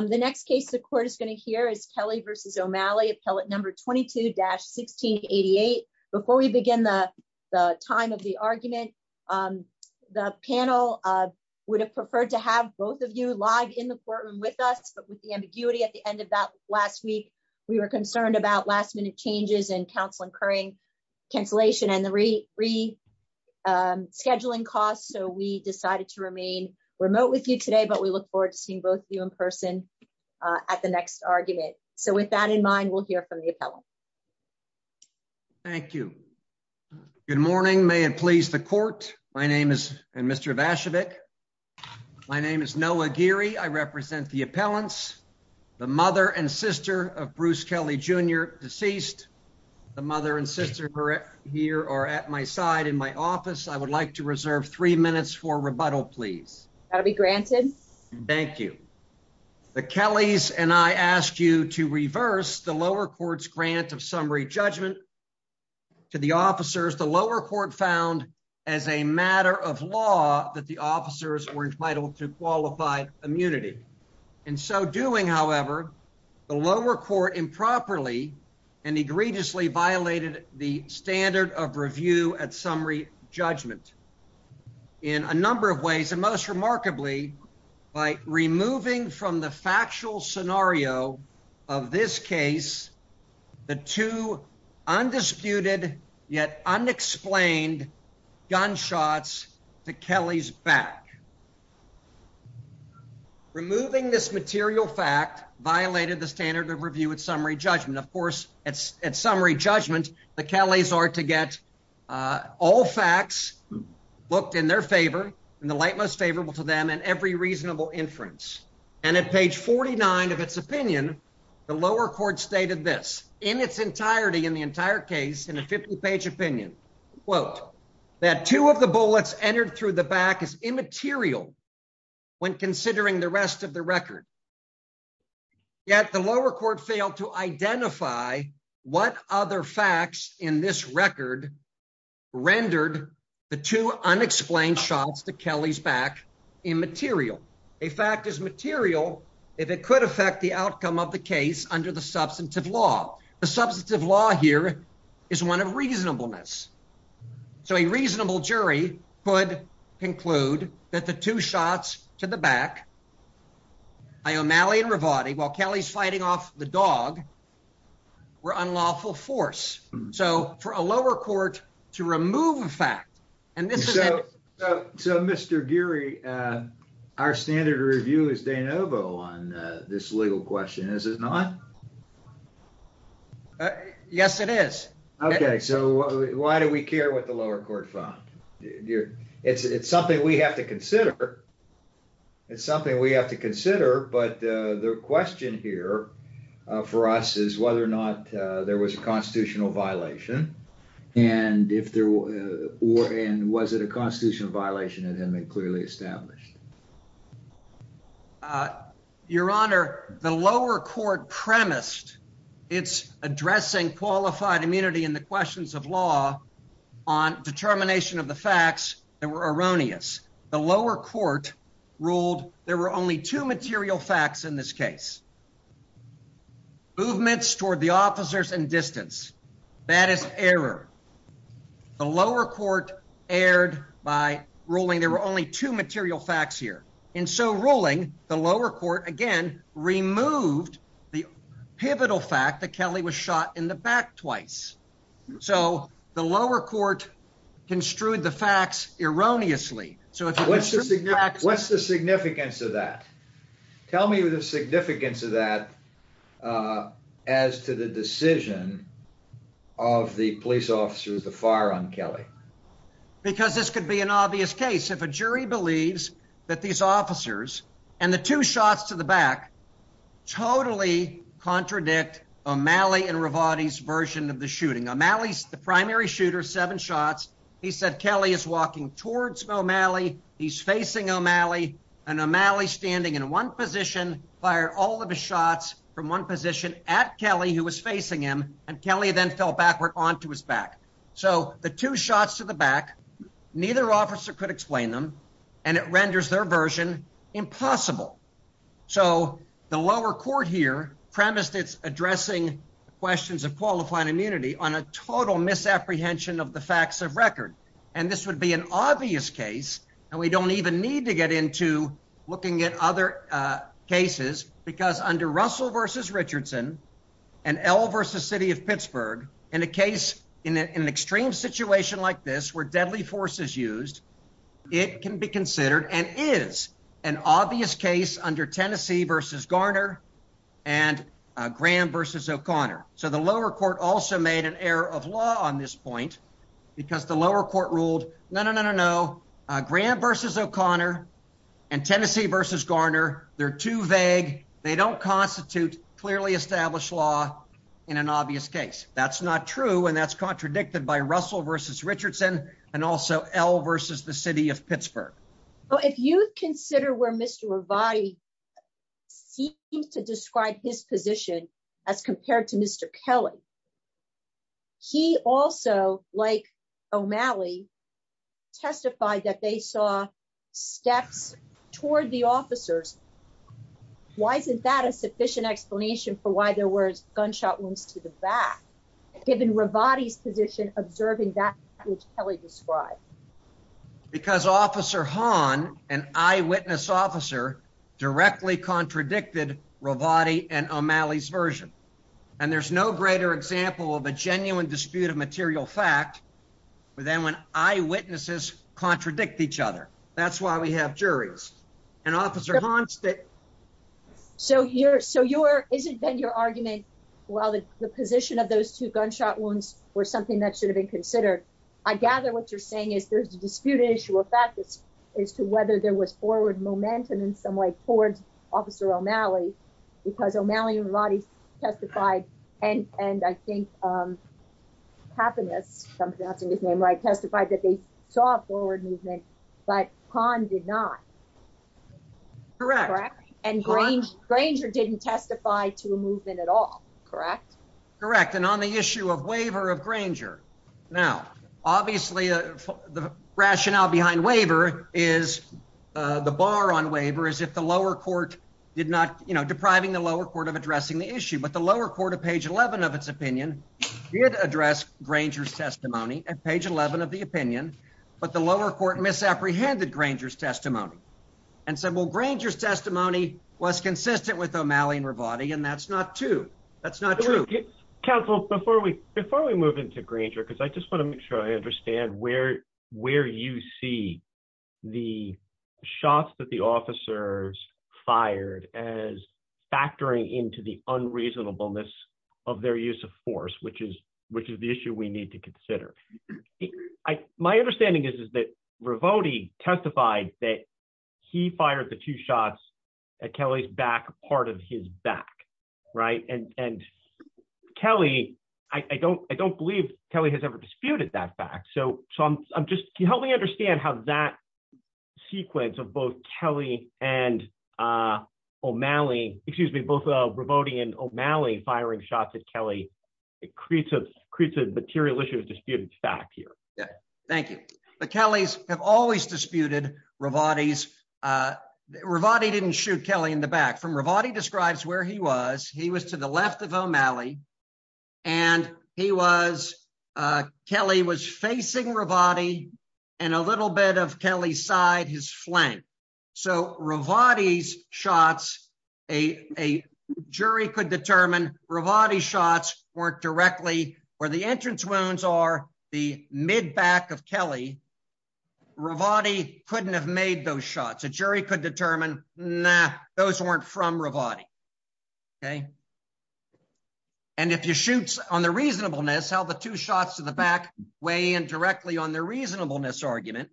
The next case the court is going to hear is Kelly versus O'Malley, appellate number 22-1688. Before we begin the time of the argument, the panel would have preferred to have both of you live in the courtroom with us, but with the ambiguity at the end of that last week, we were concerned about last minute changes and counsel incurring cancellation and the rescheduling costs, so we decided to remain remote with you today, we look forward to seeing both of you in person at the next argument. So with that in mind, we'll hear from the appellant. Noah Geary Thank you. Good morning. May it please the court. My name is Mr. Vashevik. My name is Noah Geary. I represent the appellants, the mother and sister of Bruce Kelly Jr., deceased. The mother and sister here are at my side in my office. I would like to reserve three minutes for rebuttal, please. That'll be granted. Thank you. The Kellys and I asked you to reverse the lower court's grant of summary judgment to the officers. The lower court found as a matter of law that the officers were entitled to qualified immunity. In so doing, however, the lower court improperly and egregiously violated the standard of review at summary judgment in a number of ways, and most remarkably, by removing from the factual scenario of this case the two undisputed yet unexplained gunshots to Kelly's back. Removing this material fact violated the standard of review at summary judgment. Of course, at summary judgment, the Kellys are to get all facts booked in their favor and the light most favorable to them and every reasonable inference. And at page 49 of its opinion, the lower court stated this in its entirety, in the entire case, in a 50-page opinion, quote, that two of the bullets entered through the back is immaterial when considering the rest of the record. Yet the lower court failed to identify what other facts in this record rendered the two unexplained shots to Kelly's back immaterial. A fact is material if it could affect the outcome of the case under the substantive law. The substantive law here is one of reasonableness. So a reasonable jury could conclude that the two shots to the back by O'Malley and Rivati while Kelly's fighting off the dog were unlawful force. So for a lower court to remove a fact, and this is it. So Mr. Geary, our standard of review is de novo on this legal question, is it not? Yes, it is. Okay, so why do we care what the lower court found? It's something we have to consider. It's something we have to consider. But the question here for us is whether or not there was a constitutional violation. And if there were, and was it a constitutional violation that had been clearly established? Your Honor, the lower court premised its addressing qualified immunity in the questions of law on determination of the facts that were erroneous. The lower court ruled there were only two material facts in this case. Movements toward the officers and distance. That is error. The lower court erred by ruling there were only two material facts here. And so ruling the lower court again removed the pivotal fact that Kelly was shot in the back twice. So the lower court construed the facts erroneously. What's the significance of that? Tell me the significance of that as to the decision of the police officers to fire on Kelly. Because this could be an obvious case. If a jury believes that these officers and the two shots to the back totally contradict O'Malley and Revati's version of the shooting. O'Malley's the primary shooter, seven shots. He said Kelly is walking towards O'Malley. He's facing O'Malley. And O'Malley standing in one position fired all of his shots from one position at Kelly who was facing him. And Kelly then fell backward onto his back. So the two shots to the back, neither officer could explain them. And it renders their version impossible. So the lower court here premised its addressing questions of qualifying immunity on a total misapprehension of the facts of record. And this would be an obvious case. And we don't even need to get into looking at other cases because under Russell versus Richardson and L versus city of Pittsburgh in a case in an extreme situation like this where deadly force is used, it can be considered and is an obvious case under Tennessee versus Garner and Graham versus O'Connor. So the lower court also made an error of law on this point because the lower court ruled no, no, no, no, no. Graham versus O'Connor and Tennessee versus Garner. They're too vague. They don't constitute clearly established law in an obvious case. That's not true. And that's contradicted by Russell versus Richardson and also L versus the city of Pittsburgh. Well, if you consider where Mr. Revati seems to describe his position as compared to Mr. Kelly, he also like O'Malley testified that they saw steps toward the officers. Why isn't that a sufficient explanation for why there were gunshot wounds to the back given Revati's position, observing that which Kelly described? Because Officer Hahn, an eyewitness officer, directly contradicted Revati and O'Malley's version. And there's no greater example of a genuine dispute of material fact than when eyewitnesses contradict each other. That's why we have juries. And Officer Hahn said. So your, so your, is it been your argument while the position of those two gunshot wounds were something that should have been considered? I gather what you're saying is there's a disputed issue of fact as to whether there was forward momentum in some way towards Officer O'Malley because O'Malley and Revati testified and, and I Hahn did not. Correct. And Granger, Granger didn't testify to a movement at all. Correct. Correct. And on the issue of waiver of Granger, now, obviously the rationale behind waiver is the bar on waiver is if the lower court did not, you know, depriving the lower court of addressing the issue, but the lower court of page 11 of its opinion did address Granger's testimony at page 11 of the opinion, but the lower court misapprehended Granger's testimony and said, well, Granger's testimony was consistent with O'Malley and Revati. And that's not true. That's not true. Counsel, before we, before we move into Granger, because I just want to make sure I understand where, where you see the shots that the officers fired as factoring into the I, my understanding is, is that Revati testified that he fired the two shots at Kelly's back, part of his back. Right. And, and Kelly, I don't, I don't believe Kelly has ever disputed that fact. So, so I'm just, can you help me understand how that sequence of both Kelly and O'Malley, excuse me, both Revati and O'Malley firing shots at Kelly, it creates a, creates a material issue of disputed fact here. Yeah. Thank you. But Kelly's have always disputed Revati's, Revati didn't shoot Kelly in the back from Revati describes where he was. He was to the left of O'Malley and he was, Kelly was facing Revati and a little bit of Kelly's side, his flank. So Revati's shots, a, a jury could determine Revati's shots weren't directly where the entrance wounds are the mid back of Kelly. Revati couldn't have made those shots. A jury could determine, nah, those weren't from Revati. Okay. And if you shoot on the reasonableness, how the two shots to the back weigh in directly on the reasonableness argument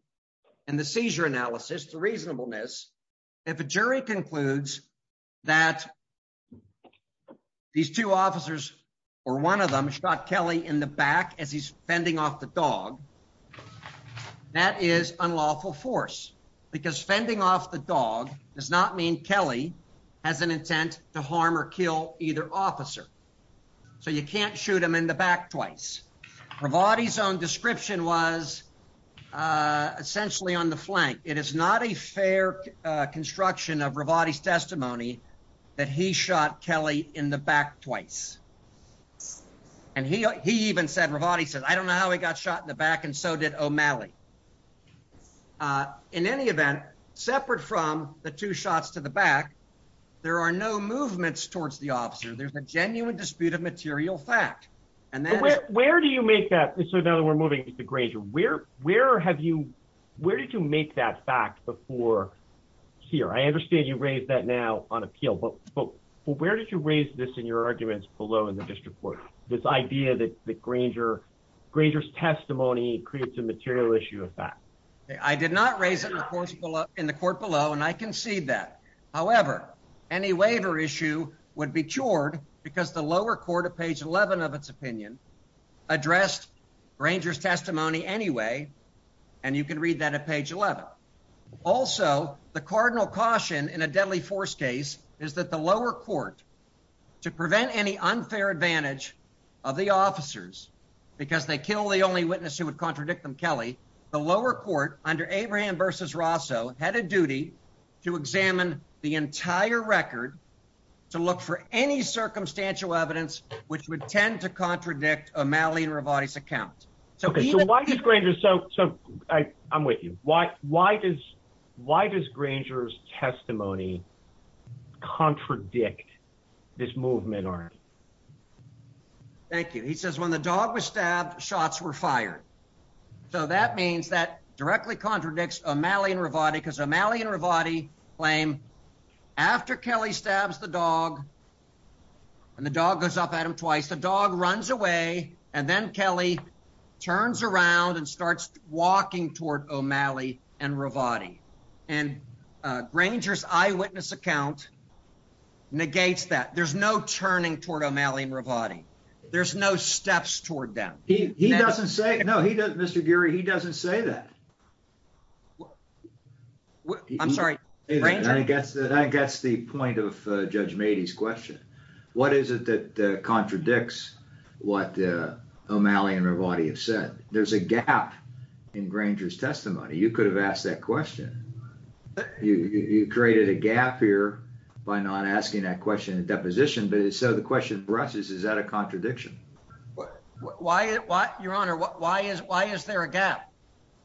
and the seizure analysis, the reasonableness, if a jury concludes that these two officers or one of them shot Kelly in the back as he's fending off the dog, that is unlawful force because fending off the dog does not mean Kelly has an intent to harm or kill either officer. So you can't shoot him in the back twice. Revati's own description was essentially on the flank. It is not a fair construction of Revati's testimony that he shot Kelly in the back twice. And he, he even said, Revati says, I don't know how he got shot in the back and so did O'Malley. Uh, in any event, separate from the two shots to the back, there are no movements towards the officer. There's a genuine dispute of material fact. And then where do you make that? So now that we're moving to the Granger, where, where have you, where did you make that fact before here? I understand you raised that now on appeal, but, but where did you raise this in your arguments below in the district court? This idea that the Granger Granger's testimony creates a material issue of fact, I did not raise it in the courts below in the court below. And I concede that. However, any waiver issue would be cured because the lower court of page 11 of its opinion addressed Ranger's testimony anyway. And you can read that at page 11. Also the cardinal caution in a deadly force case is that the lower court to prevent any unfair advantage of the officers because they kill the only witness who would contradict them. Kelly, the lower court under Abraham versus Rosso had a duty to examine the entire record, to look for any circumstantial evidence, which would tend to contradict a Malian revised account. So why did Granger? So, so I I'm with you. Why, why does, why does Granger's testimony contradict this movement? Thank you. He says when the dog was stabbed, shots were fired. So that means that directly contradicts a Malian Revati because a Malian Revati claim after Kelly stabs the dog and the dog goes up at him twice, the dog runs away and then Kelly turns around and starts walking toward O'Malley and Revati and Granger's eyewitness account negates that there's no turning toward O'Malley and Revati. There's no steps toward them. He what I'm sorry. I guess that I guess the point of a judge made his question. What is it that contradicts what O'Malley and Revati have said? There's a gap in Granger's testimony. You could have asked that question. You created a gap here by not asking that question in deposition. But so the question for us is, is that a contradiction? Why, why your honor? Why is, why is there a gap?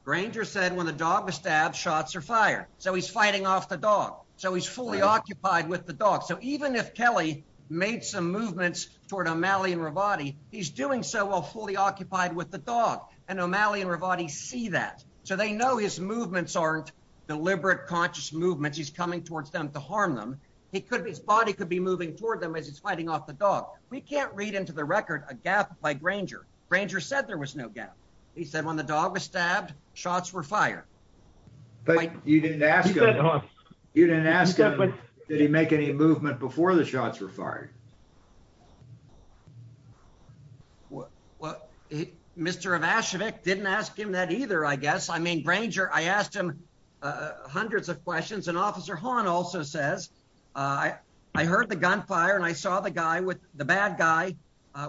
Granger said when the dog was stabbed, shots are fired. So he's fighting off the dog. So he's fully occupied with the dog. So even if Kelly made some movements toward O'Malley and Revati, he's doing so while fully occupied with the dog and O'Malley and Revati see that. So they know his movements aren't deliberate conscious movements. He's coming towards them to harm them. He could, his body could be moving toward them as he's fighting off the dog. We can't read into the record a gap by Granger. Granger said there was no gap. He said when the dog was stabbed, shots were fired. But you didn't ask him, you didn't ask him, did he make any movement before the shots were fired? Well, Mr. Ivashevic didn't ask him that either, I guess. I mean, Granger, I asked him hundreds of questions. And Officer Hawn also says, I heard the gunfire and I saw the guy with, the bad guy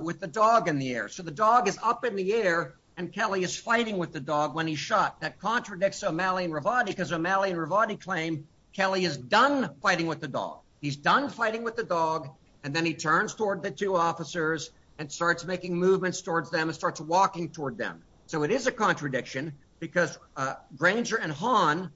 with the dog in the air. So the dog is up in the air and Kelly is fighting with the dog when he shot. That contradicts O'Malley and Revati because O'Malley and Revati claim Kelly is done fighting with the dog. He's done fighting with the dog. And then he turns toward the two officers and starts making movements towards them and starts walking toward them. So it is a contradiction because Granger and Hawn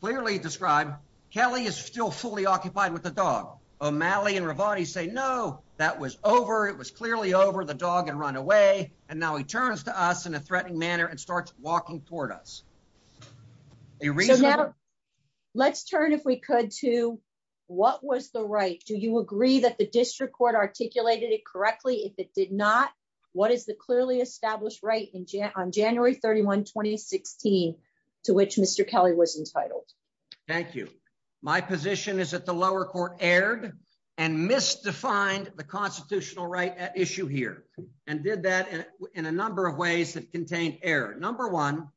clearly describe Kelly is still fully with the dog. O'Malley and Revati say, no, that was over. It was clearly over the dog and run away. And now he turns to us in a threatening manner and starts walking toward us. Let's turn if we could to what was the right? Do you agree that the district court articulated it correctly? If it did not, what is the clearly established right on January 31, 2016 to which Mr. Kelly was entitled? Thank you. My position is that the lower court erred and misdefined the constitutional right issue here and did that in a number of ways that contained error. Number one,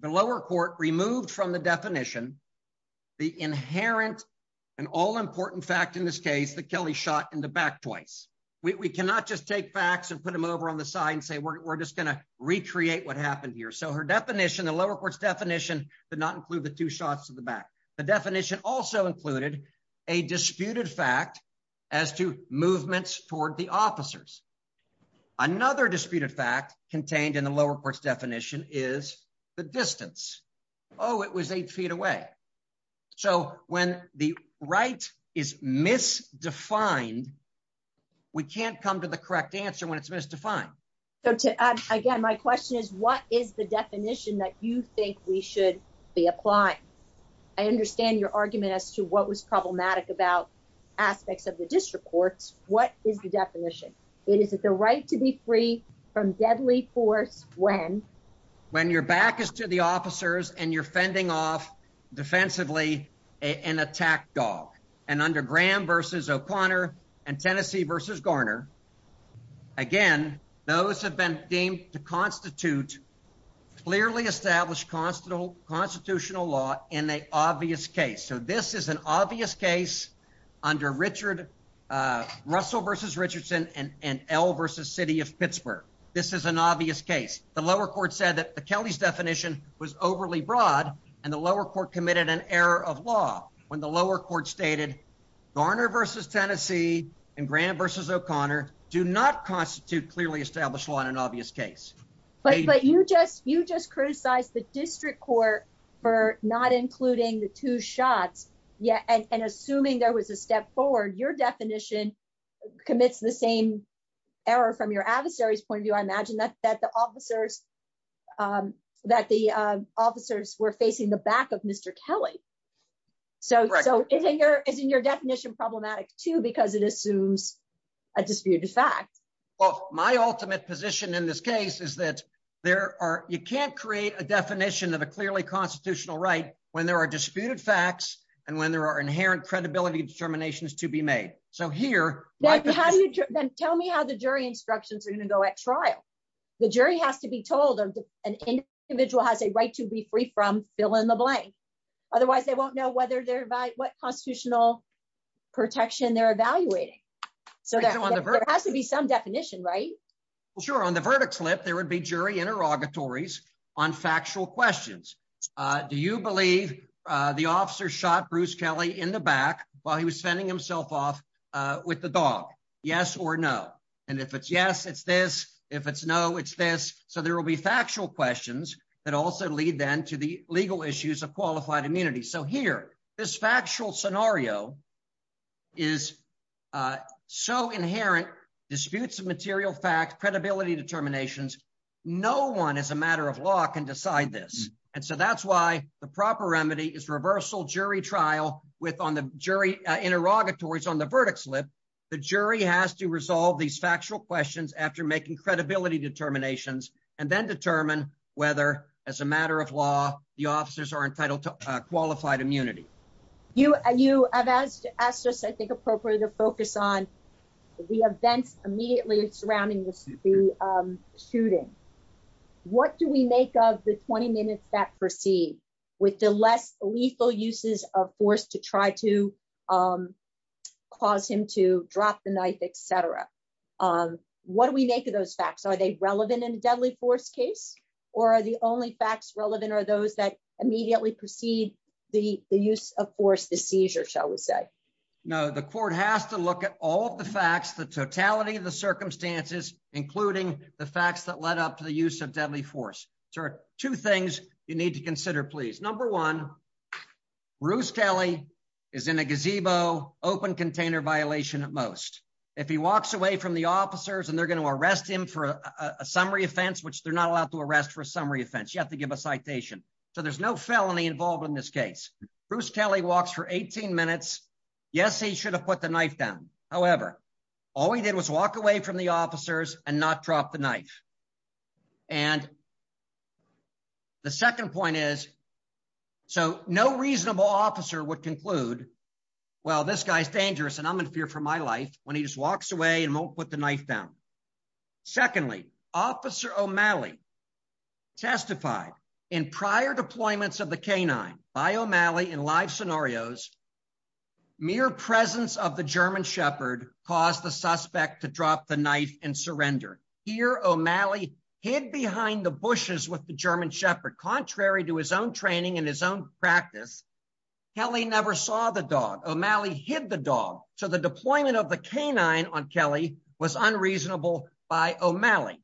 the lower court removed from the definition, the inherent and all important fact in this case that Kelly shot in the back twice. We cannot just take facts and put them over on the side and say, we're just going to her definition. The lower court's definition did not include the two shots to the back. The definition also included a disputed fact as to movements toward the officers. Another disputed fact contained in the lower court's definition is the distance. Oh, it was eight feet away. So when the right is misdefined, we can't come to the correct answer when it's misdefined. So again, my question is, what is the definition that you think we should be applying? I understand your argument as to what was problematic about aspects of the district courts. What is the definition? It is the right to be free from deadly force when when your back is to the officers and you're fending off defensively an attack dog and under Graham versus O'Connor and Tennessee versus Garner. Again, those have been deemed to constitute clearly established constitutional constitutional law in the obvious case. So this is an obvious case under Richard Russell versus Richardson and L versus city of Pittsburgh. This is an obvious case. The lower court said that the Kelly's definition was overly broad and the lower court committed an error of when the lower court stated Garner versus Tennessee and Graham versus O'Connor do not constitute clearly established law in an obvious case. But you just you just criticized the district court for not including the two shots. Yeah. And assuming there was a step forward, your definition commits the same error from your adversary's point of view. I imagine that that the officers that the officers were facing the back of Mr. Kelly. So so isn't your isn't your definition problematic, too, because it assumes a disputed fact of my ultimate position in this case is that there are you can't create a definition of a clearly constitutional right when there are disputed facts and when there are inherent credibility determinations to be made. So here, how do you tell me how the jury instructions are going to go at trial? The jury has to be told an individual has a right to be free from fill in the blank. Otherwise, they won't know whether they're what constitutional protection they're evaluating. So there has to be some definition, right? Sure. On the verdict slip, there would be jury interrogatories on factual questions. Do you believe the officer shot Bruce Kelly in the back while he was fending himself off with the dog? Yes or no. And if it's yes, it's this. If it's no, it's this. So there will be factual questions that also lead then to the legal issues of qualified immunity. So here, this factual scenario is so inherent disputes of material fact, credibility determinations. No one is a matter of law can decide this. And so that's why the proper remedy is reversal jury trial with on the jury interrogatories on the verdict slip. The jury has to resolve these factual questions after making credibility determinations and then determine whether as a matter of law, the officers are entitled to qualified immunity. You and you have asked us, I think, appropriately to focus on the events immediately surrounding this shooting. What do we make of the 20 minutes that proceed with the less lethal uses of force to try to cause him to drop the knife, et cetera? What do we make of those facts? Are they relevant in a deadly force case or are the only facts relevant or those that immediately proceed the use of force, the seizure, shall we say? No, the court has to look at all of the facts, the totality of the circumstances, including the facts that led up to the use of deadly force. Two things you need to consider, please. Number one, Bruce Kelly is in a gazebo open container violation at most. If he walks away from the officers and they're going to arrest him for a summary offense, which they're not allowed to arrest for a summary offense, you have to give a citation. So there's no felony involved in this case. Bruce Kelly walks for 18 minutes. Yes, he should have put the knife down. However, all he did was walk away from the officers and not drop the knife. And the second point is, so no reasonable officer would conclude, well, this guy's dangerous and I'm in fear for my life when he just walks away and won't put the knife down. Secondly, Officer O'Malley testified in prior deployments of the canine by O'Malley in live scenarios, mere presence of the German shepherd caused the suspect to drop the knife and surrender. Here, O'Malley hid behind the bushes with the German shepherd, contrary to his own training and his own practice. Kelly never saw the dog. O'Malley hid the dog. So the deployment of the canine on Kelly was unreasonable by O'Malley.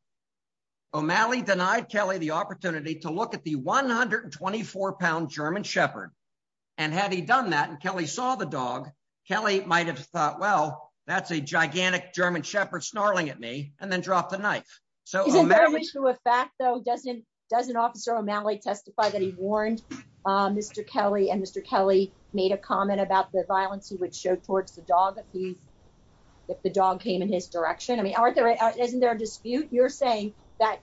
O'Malley denied Kelly the opportunity to look the 124 pound German shepherd. And had he done that and Kelly saw the dog, Kelly might have thought, well, that's a gigantic German shepherd snarling at me and then dropped the knife. So is there a fact though, doesn't, doesn't Officer O'Malley testify that he warned Mr. Kelly and Mr. Kelly made a comment about the violence he would show towards the dog if he's, if the dog came in his direction? I mean, aren't there, isn't there a dispute? You're saying that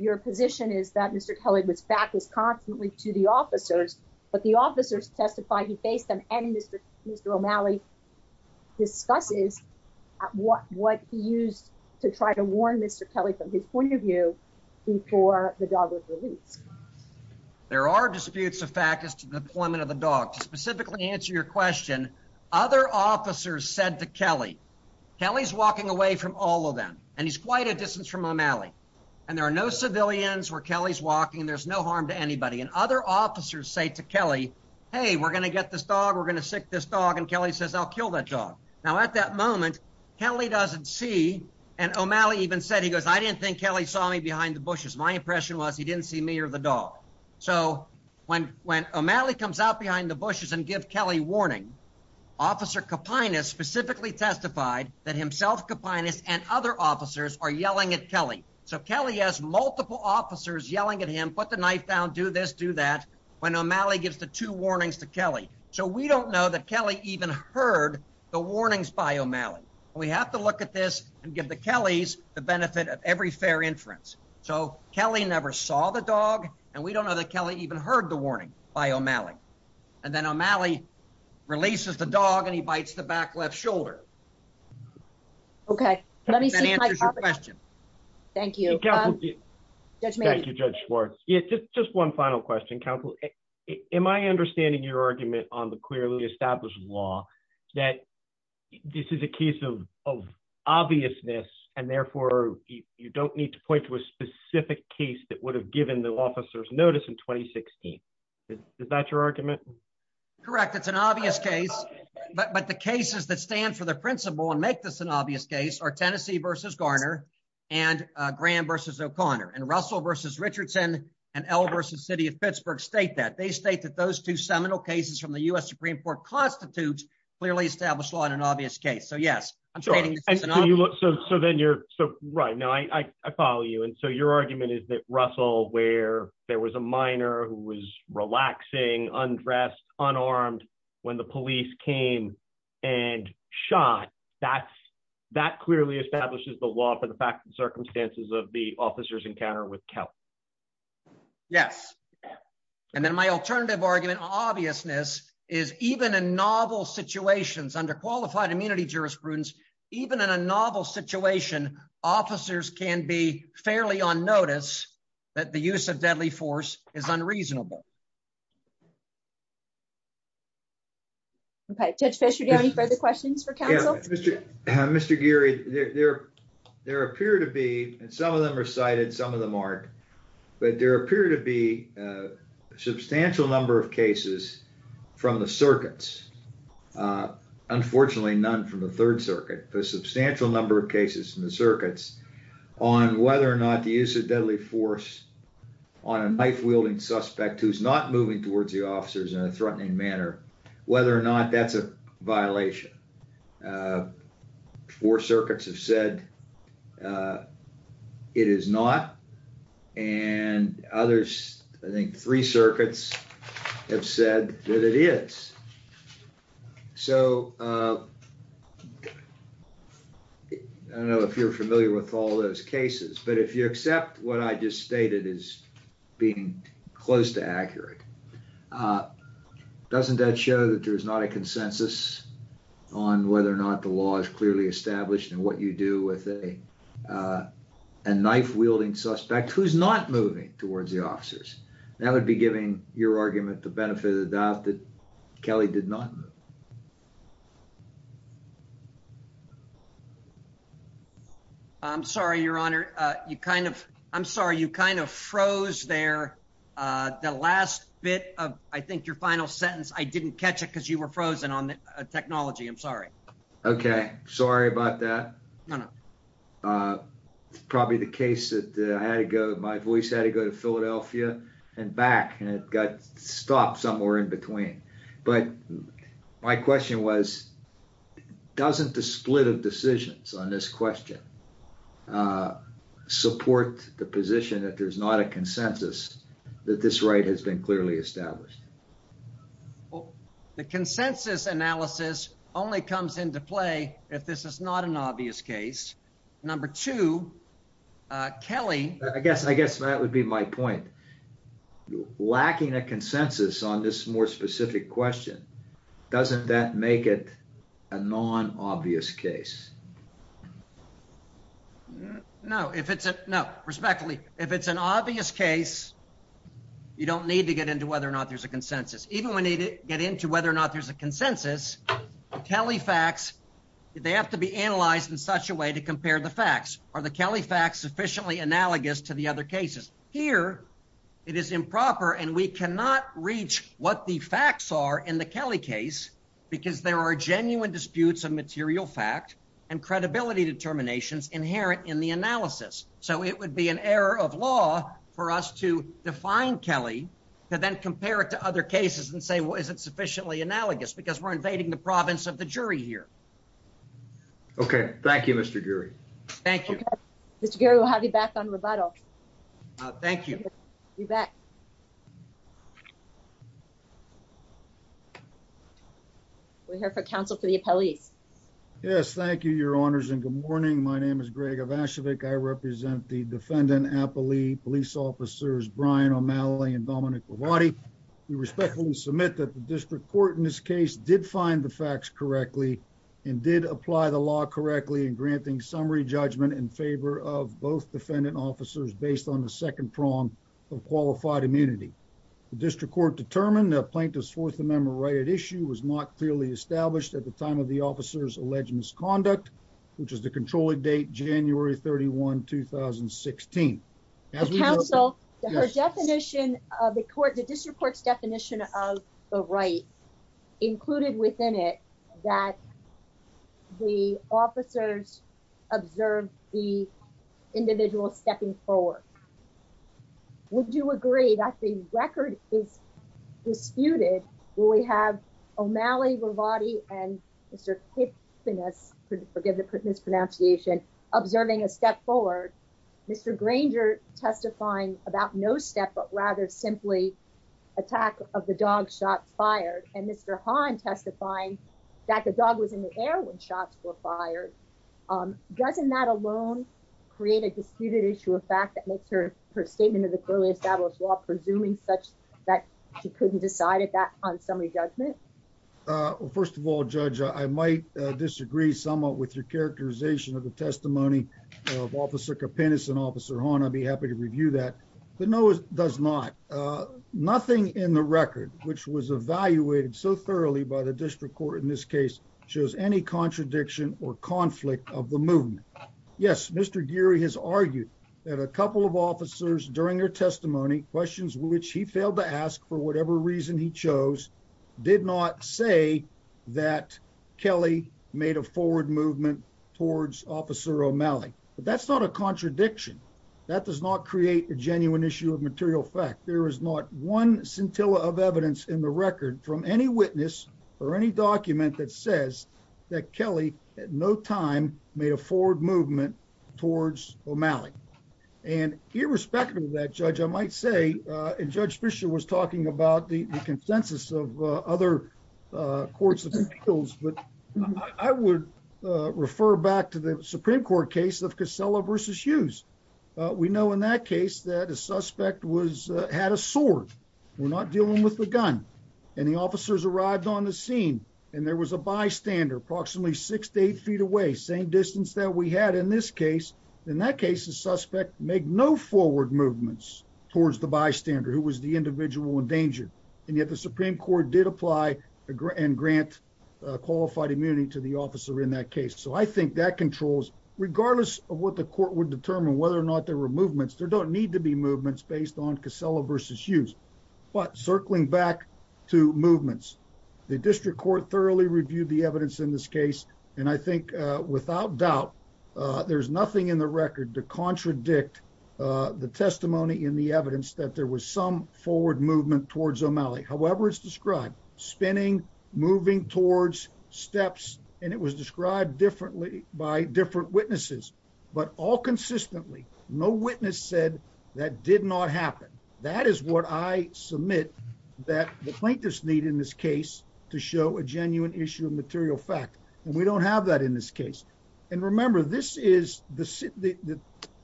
your position is that Mr. Kelly was backwards constantly to the officers, but the officers testified he faced them and Mr. O'Malley discusses what he used to try to warn Mr. Kelly from his point of view before the dog was released. There are disputes of fact as to the deployment of the dog. To specifically answer your question, other officers said to Kelly, Kelly's walking away from all of them. And he's quite a distance from O'Malley. And there are no civilians where Kelly's walking. There's no harm to anybody. And other officers say to Kelly, Hey, we're going to get this dog. We're going to sick this dog. And Kelly says, I'll kill that dog. Now at that moment, Kelly doesn't see. And O'Malley even said, he goes, I didn't think Kelly saw me behind the bushes. My impression was he didn't see me or the dog. So when, when O'Malley comes out behind the bushes and give Kelly warning, officer Kapinas specifically testified that himself Kapinas and other officers are yelling at Kelly. So Kelly has multiple officers yelling at him, put the knife down, do this, do that. When O'Malley gives the two warnings to Kelly. So we don't know that Kelly even heard the warnings by O'Malley. We have to look at this and give the Kellys the benefit of every fair inference. So Kelly never saw the dog. And we don't know that Kelly even heard the warning by O'Malley. And then O'Malley releases the dog and he bites the back left shoulder. Okay. Let me see my question. Thank you. Thank you, Judge Schwartz. Just one final question. Counsel, am I understanding your argument on the clearly established law that this is a case of obviousness and therefore you don't need to point to a specific case that would have given the notice in 2016. Is that your argument? Correct. It's an obvious case, but the cases that stand for the principle and make this an obvious case are Tennessee versus Garner and Graham versus O'Connor and Russell versus Richardson and L versus city of Pittsburgh state that they state that those two seminal cases from the U.S. Supreme court constitutes clearly established law in an obvious case. So yes. So then you're so right now I follow you. And so your argument is that Russell, where there was a minor who was relaxing undressed unarmed when the police came and shot that's that clearly establishes the law for the facts and circumstances of the officers encounter with Kelly. Yes. And then my alternative argument obviousness is even a novel situations under qualified immunity jurisprudence, even in a novel situation, officers can be fairly on notice that the use of deadly force is unreasonable. Okay. Judge Fisher, do you have any further questions for counsel? Mr. Geary, there appear to be, and some of them are cited, some of them aren't, but there appear to be a substantial number of cases from the circuits. Uh, unfortunately, none from the third circuit, the substantial number of cases in the circuits on whether or not the use of deadly force on a knife wielding suspect, who's not moving towards the officers in a threatening manner, whether or not that's a violation, uh, four circuits have said, uh, it is not. And others, I think three circuits have said that it is. So, uh, I don't know if you're familiar with all those cases, but if you accept what I just stated is being close to accurate, uh, doesn't that show that there is not a consensus on whether or not the law is clearly established and what you do with a, uh, a knife wielding suspect who's not moving towards the officers that would be giving your argument, the benefit of the doubt that Kelly did not. I'm sorry, your honor. Uh, you kind of, I'm sorry. You kind of froze there. Uh, the last bit of, I think your final sentence, I didn't catch it cause you were frozen on the technology. I'm sorry. Okay. Sorry about that. Uh, it's probably the case that I had to go, my voice had to go to Philadelphia and back and it got stopped somewhere in between. But my question was, doesn't the split of decisions on this question, uh, support the position that there's not a consensus that this right has been clearly established. Well, the consensus analysis only comes into play. If this is not an obvious case, number two, uh, Kelly, I guess, I guess that would be my point. Lacking a consensus on this more specific question. Doesn't that make it a non obvious case? No, if it's a, no, respectfully, if it's an obvious case, you don't need to get into whether or not there's a consensus. Even when they get into whether or not there's a consensus, Kelly facts, they have to be analyzed in such a way to compare the facts. Are the Kelly facts sufficiently analogous to the other cases here? It is improper and we cannot reach what the facts are in the Kelly case because there are genuine disputes of material fact and credibility determinations inherent in the analysis. So it would be an error of law for us to define Kelly to then compare it to other cases and say, well, is it sufficiently analogous because we're invading the province of the jury here? Okay. Thank you, Mr. Jury. Thank you, Mr. Gary. We'll have you back on rebuttal. Thank you. You bet. We're here for counsel for the appellees. Yes. Thank you, your honors. And good morning. My name is Greg of Ashwick. I represent the defendant, Appley police officers, Brian O'Malley and Dominic Cavati. We respectfully submit that the district court in this case did find the facts correctly and did apply the law correctly in granting summary judgment in favor of both defendant officers based on the second prong of qualified immunity. The district court determined the plaintiff's fourth amendment right at issue was not clearly established at the time of the officer's alleged misconduct, which is the controlling date, January 31, 2016. As we counsel her definition of the court, the district court's definition of the right included within it that the officers observed the individual stepping forward. Would you agree that the record is disputed? Will we have O'Malley, Cavati, and Mr. Hickness, forgive the mispronunciation, observing a step forward, Mr. Granger testifying about no step, but rather simply attack of the dog shots fired and Mr. Hahn testifying that the dog was in the air when shots were fired. Doesn't that alone create a disputed issue of fact that makes her her statement of the clearly established law presuming such that she couldn't decide at that on summary judgment? First of all, Judge, I might disagree somewhat with your characterization of testimony of Officer Coppiness and Officer Horn. I'd be happy to review that, but no, it does not. Nothing in the record which was evaluated so thoroughly by the district court in this case shows any contradiction or conflict of the movement. Yes, Mr. Geary has argued that a couple of officers during their testimony, questions which he failed to ask for whatever reason he chose, did not say that Kelly made a forward movement towards Officer O'Malley. But that's not a contradiction. That does not create a genuine issue of material fact. There is not one scintilla of evidence in the record from any witness or any document that says that Kelly at no time made a forward movement towards O'Malley. And irrespective of that, Judge, I might say, and Judge Fischer was talking about the consensus of other courts of appeals, but I would refer back to the Supreme Court case of Casella v. Hughes. We know in that case that a suspect had a sword. We're not dealing with the gun. And the officers arrived on the scene and there was a bystander approximately six to eight feet away, same distance that we had in this case. In that case, the suspect made no forward movements towards the bystander who was the individual in danger. And yet the Supreme Court did apply and grant qualified immunity to the officer in that case. So I think that controls, regardless of what the court would determine, whether or not there were movements, there don't need to be movements based on Casella v. Hughes. But circling back to movements, the district court thoroughly reviewed the evidence in this case. And I think without doubt, there's nothing in the record to contradict the testimony in the evidence that there was some forward movement towards O'Malley. However it's described, spinning, moving towards, steps, and it was described differently by different witnesses. But all consistently, no witness said that did not happen. That is what I submit that the plaintiffs need in this case to show a genuine issue of material fact. And we don't have that in this case. And remember, this is the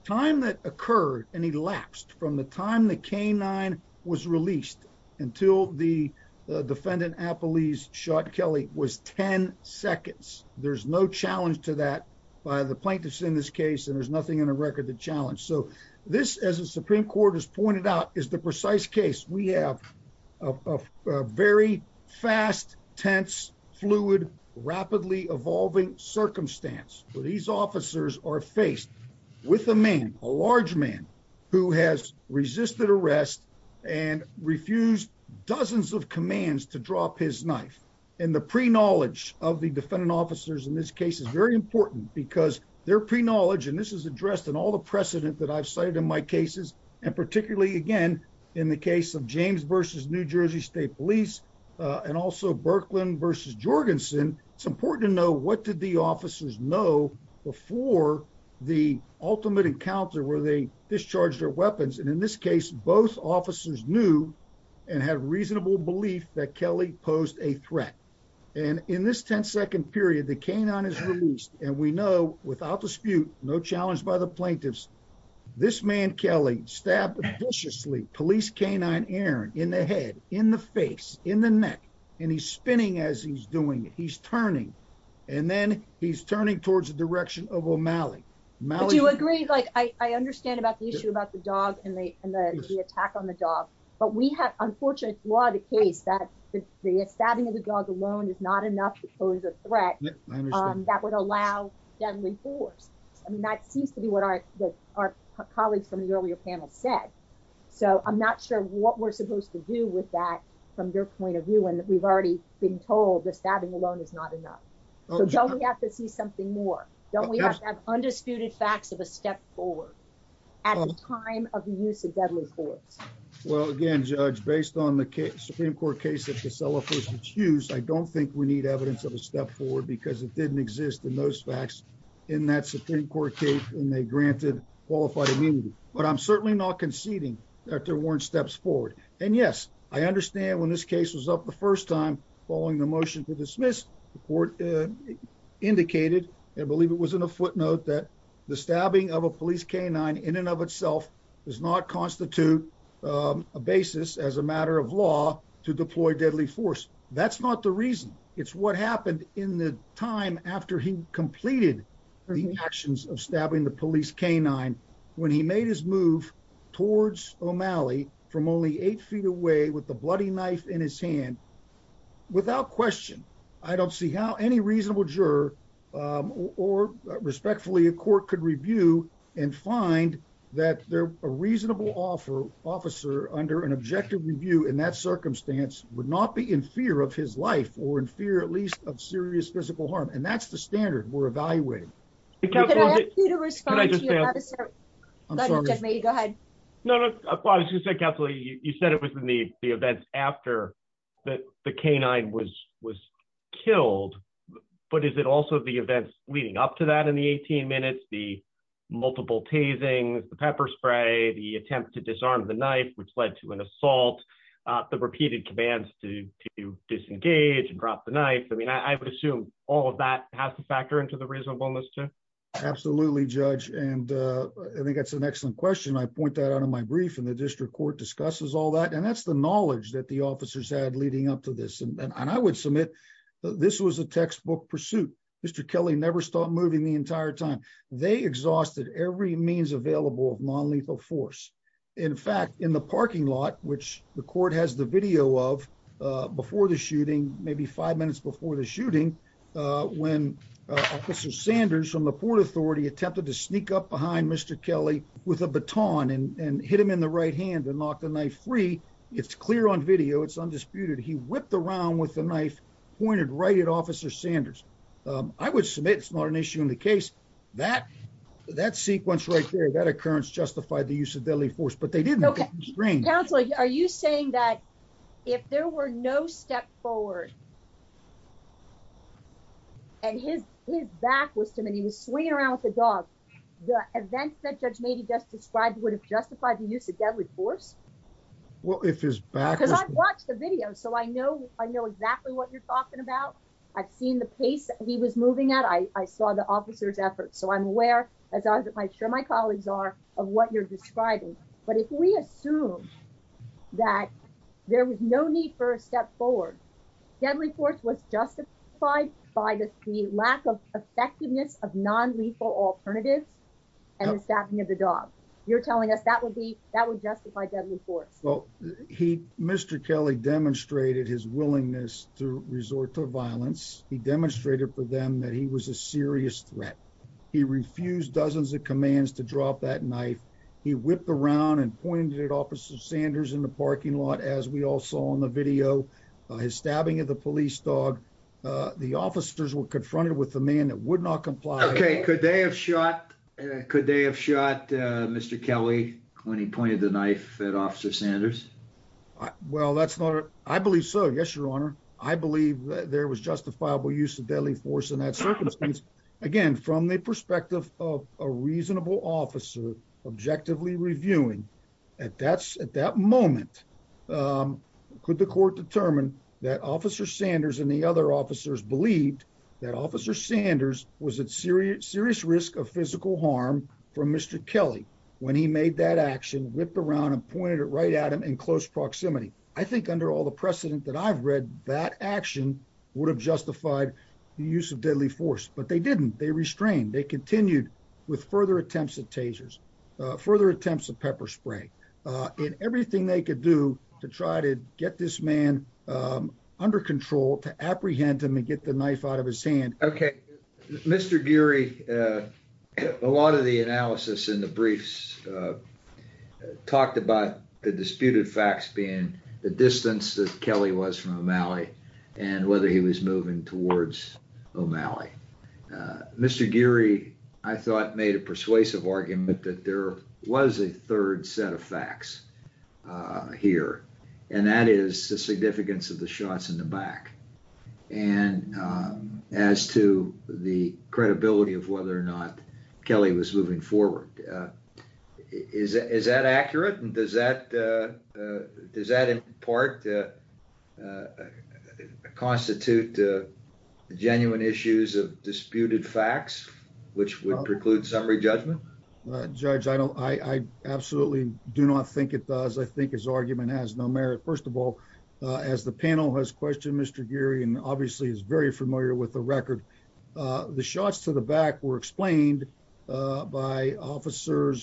time that occurred and elapsed from the time the K-9 was released until the defendant, Appleese, shot Kelly was 10 seconds. There's no challenge to that by the plaintiffs in this case, and there's nothing in the record to challenge. So this, as the Supreme Court has pointed out, is the precise case. We have a very fast, tense, fluid, rapidly evolving circumstance where these officers are faced with a man, a large man, who has resisted arrest and refused dozens of commands to drop his knife. And the pre-knowledge of the defendant officers in this case is very important because their pre-knowledge, and this is addressed in all the precedent that I've cited in my cases, and particularly, again, in the case of James v. New Jersey State Police, and also Berkeland v. Jorgensen, it's important to know what did the officers know before the ultimate encounter where they discharged their weapons. And in this case, both officers knew and had reasonable belief that Kelly posed a threat. And in this 10-second period, the canine is released, and we know, without dispute, no challenge by the plaintiffs, this man, Kelly, stabbed viciously, police canine Aaron, in the head, in the face, in the neck, and he's spinning as he's doing it. He's turning, and then he's turning towards the direction of O'Malley. But you agree, like, I understand about the issue about the dog and the attack on the dog, but we have, unfortunately, throughout the case, that the stabbing of the dog alone is not enough to pose a threat that would allow deadly force. I mean, that seems to be what our colleagues from the earlier panel said. So, I'm not sure what we're supposed to do with that from your point of view, and we've already been told the stabbing alone is not enough. So, don't we have to see something more? Don't we have to have undisputed facts of a step forward at the time of the use of deadly force? Well, again, Judge, based on the Supreme Court case of Casella versus Hughes, I don't think we need evidence of a step forward because it didn't exist in those facts in that Supreme Court case when they granted qualified immunity. But I'm certainly not conceding that there weren't steps forward. And yes, I understand when this case was up the first time following the motion to dismiss, the court indicated, I believe it was in a footnote, that the stabbing of a police canine, in and of itself, does not constitute a basis as a matter of law to deploy deadly force. That's not the reason. It's what happened in the time after he completed the actions of stabbing the police canine, when he made his move towards O'Malley from only eight feet away with the bloody knife in his hand. Without question, I don't see how any reasonable juror or respectfully a court could review and find that a reasonable officer under an objective review in that circumstance would not be in fear of his life or in fear, at least, of serious physical harm. And that's the standard we're evaluating. Can I ask you to respond to your officer? Judge, may you go ahead? No, no. I was just going to say, Kathleen, you said it was in the events after the canine was multiple tasing, the pepper spray, the attempt to disarm the knife, which led to an assault, the repeated commands to disengage and drop the knife. I mean, I would assume all of that has to factor into the reasonableness, too. Absolutely, Judge. And I think that's an excellent question. I point that out in my brief and the district court discusses all that. And that's the knowledge that the officers had leading up to this. And I would submit this was a textbook pursuit. Mr. Kelly never stopped moving the entire time. They exhausted every means available of nonlethal force. In fact, in the parking lot, which the court has the video of before the shooting, maybe five minutes before the shooting, when Officer Sanders from the Port Authority attempted to sneak up behind Mr. Kelly with a baton and hit him in the right hand and knocked the knife free. It's clear on video. It's undisputed. He whipped around with the knife, pointed right at Officer Sanders. I would submit it's not an issue in the case. That sequence right there, that occurrence justified the use of deadly force. But they didn't look at the screen. Counselor, are you saying that if there were no step forward and his back was to him and he was swinging around with the dog, the events that Judge Mady just described would have justified the use of deadly force? Well, if his back... Because I've watched the video, so I know exactly what you're talking about. I've seen the pace he was moving at. I saw the officer's efforts. So I'm aware, as I'm sure my colleagues are, of what you're describing. But if we assume that there was no need for a step forward, deadly force was justified by the lack of effectiveness of nonlethal alternatives and the stabbing of the dog. You're telling us that would justify deadly force? Well, Mr. Kelly demonstrated his willingness to resort to violence. He demonstrated for them that he was a serious threat. He refused dozens of commands to drop that knife. He whipped around and pointed at Officer Sanders in the parking lot, as we all saw on the video, his stabbing of the police dog. The officers were confronted with the man that would not comply. Okay. Could they have shot Mr. Kelly when he pointed the knife at Officer Sanders? Well, that's not... I believe so. Yes, Your Honor. I believe there was justifiable use of deadly force in that circumstance. Again, from the perspective of a reasonable officer objectively reviewing, at that moment, could the court determine that Officer Sanders and serious risk of physical harm from Mr. Kelly, when he made that action, whipped around and pointed it right at him in close proximity? I think under all the precedent that I've read, that action would have justified the use of deadly force. But they didn't. They restrained. They continued with further attempts at tasers, further attempts at pepper spray, in everything they could do to try to get this man under control, to apprehend him and get the man out of jail. Mr. Geary, a lot of the analysis in the briefs talked about the disputed facts being the distance that Kelly was from O'Malley and whether he was moving towards O'Malley. Mr. Geary, I thought, made a persuasive argument that there was a third set of facts here, and that is the significance of the shots in the back, and as to the credibility of whether or not Kelly was moving forward. Is that accurate? And does that, in part, constitute genuine issues of disputed facts, which would preclude summary judgment? Judge, I absolutely do not think it does. I think his argument has no merit. First of all, as the panel has questioned Mr. Geary, and obviously is very familiar with the record, the shots to the back were explained by Officer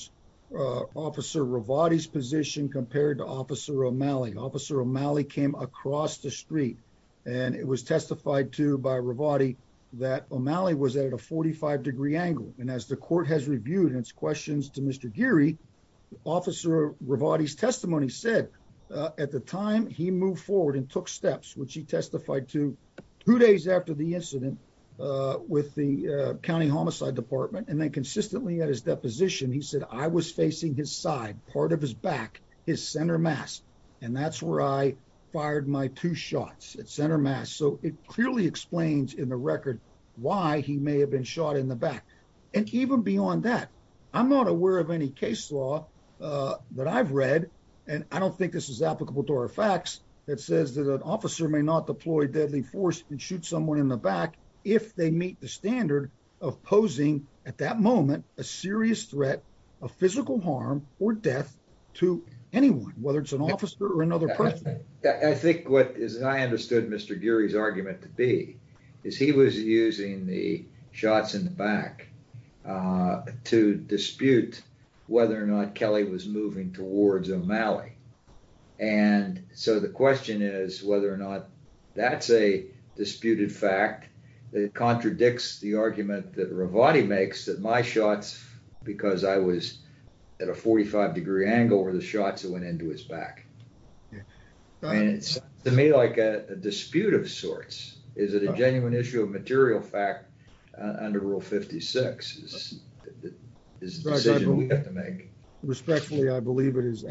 Rivati's position compared to Officer O'Malley. Officer O'Malley came across the street, and it was testified to by Rivati that O'Malley was at a 45-degree angle, and as the court has reviewed its questions to Mr. Geary, Officer Rivati's testimony said at the time he moved forward and took steps, which he testified to two days after the incident with the County Homicide Department, and then consistently at his deposition, he said, I was facing his side, part of his back, his center mass, and that's fired my two shots at center mass. So it clearly explains in the record why he may have been shot in the back. And even beyond that, I'm not aware of any case law that I've read, and I don't think this is applicable to our facts, that says that an officer may not deploy deadly force and shoot someone in the back if they meet the standard of posing at that moment a serious threat of physical harm or death to anyone, whether it's an officer or another person. I think what, as I understood Mr. Geary's argument to be, is he was using the shots in the back to dispute whether or not Kelly was moving towards O'Malley. And so the question is whether or not that's a disputed fact that contradicts the argument that Rivati makes that my shots, because I was at a 45 degree angle, were the shots that went into his back. And it's to me like a dispute of sorts. Is it a genuine issue of material fact under Rule 56 is the decision we have to make. Respectfully, I believe it is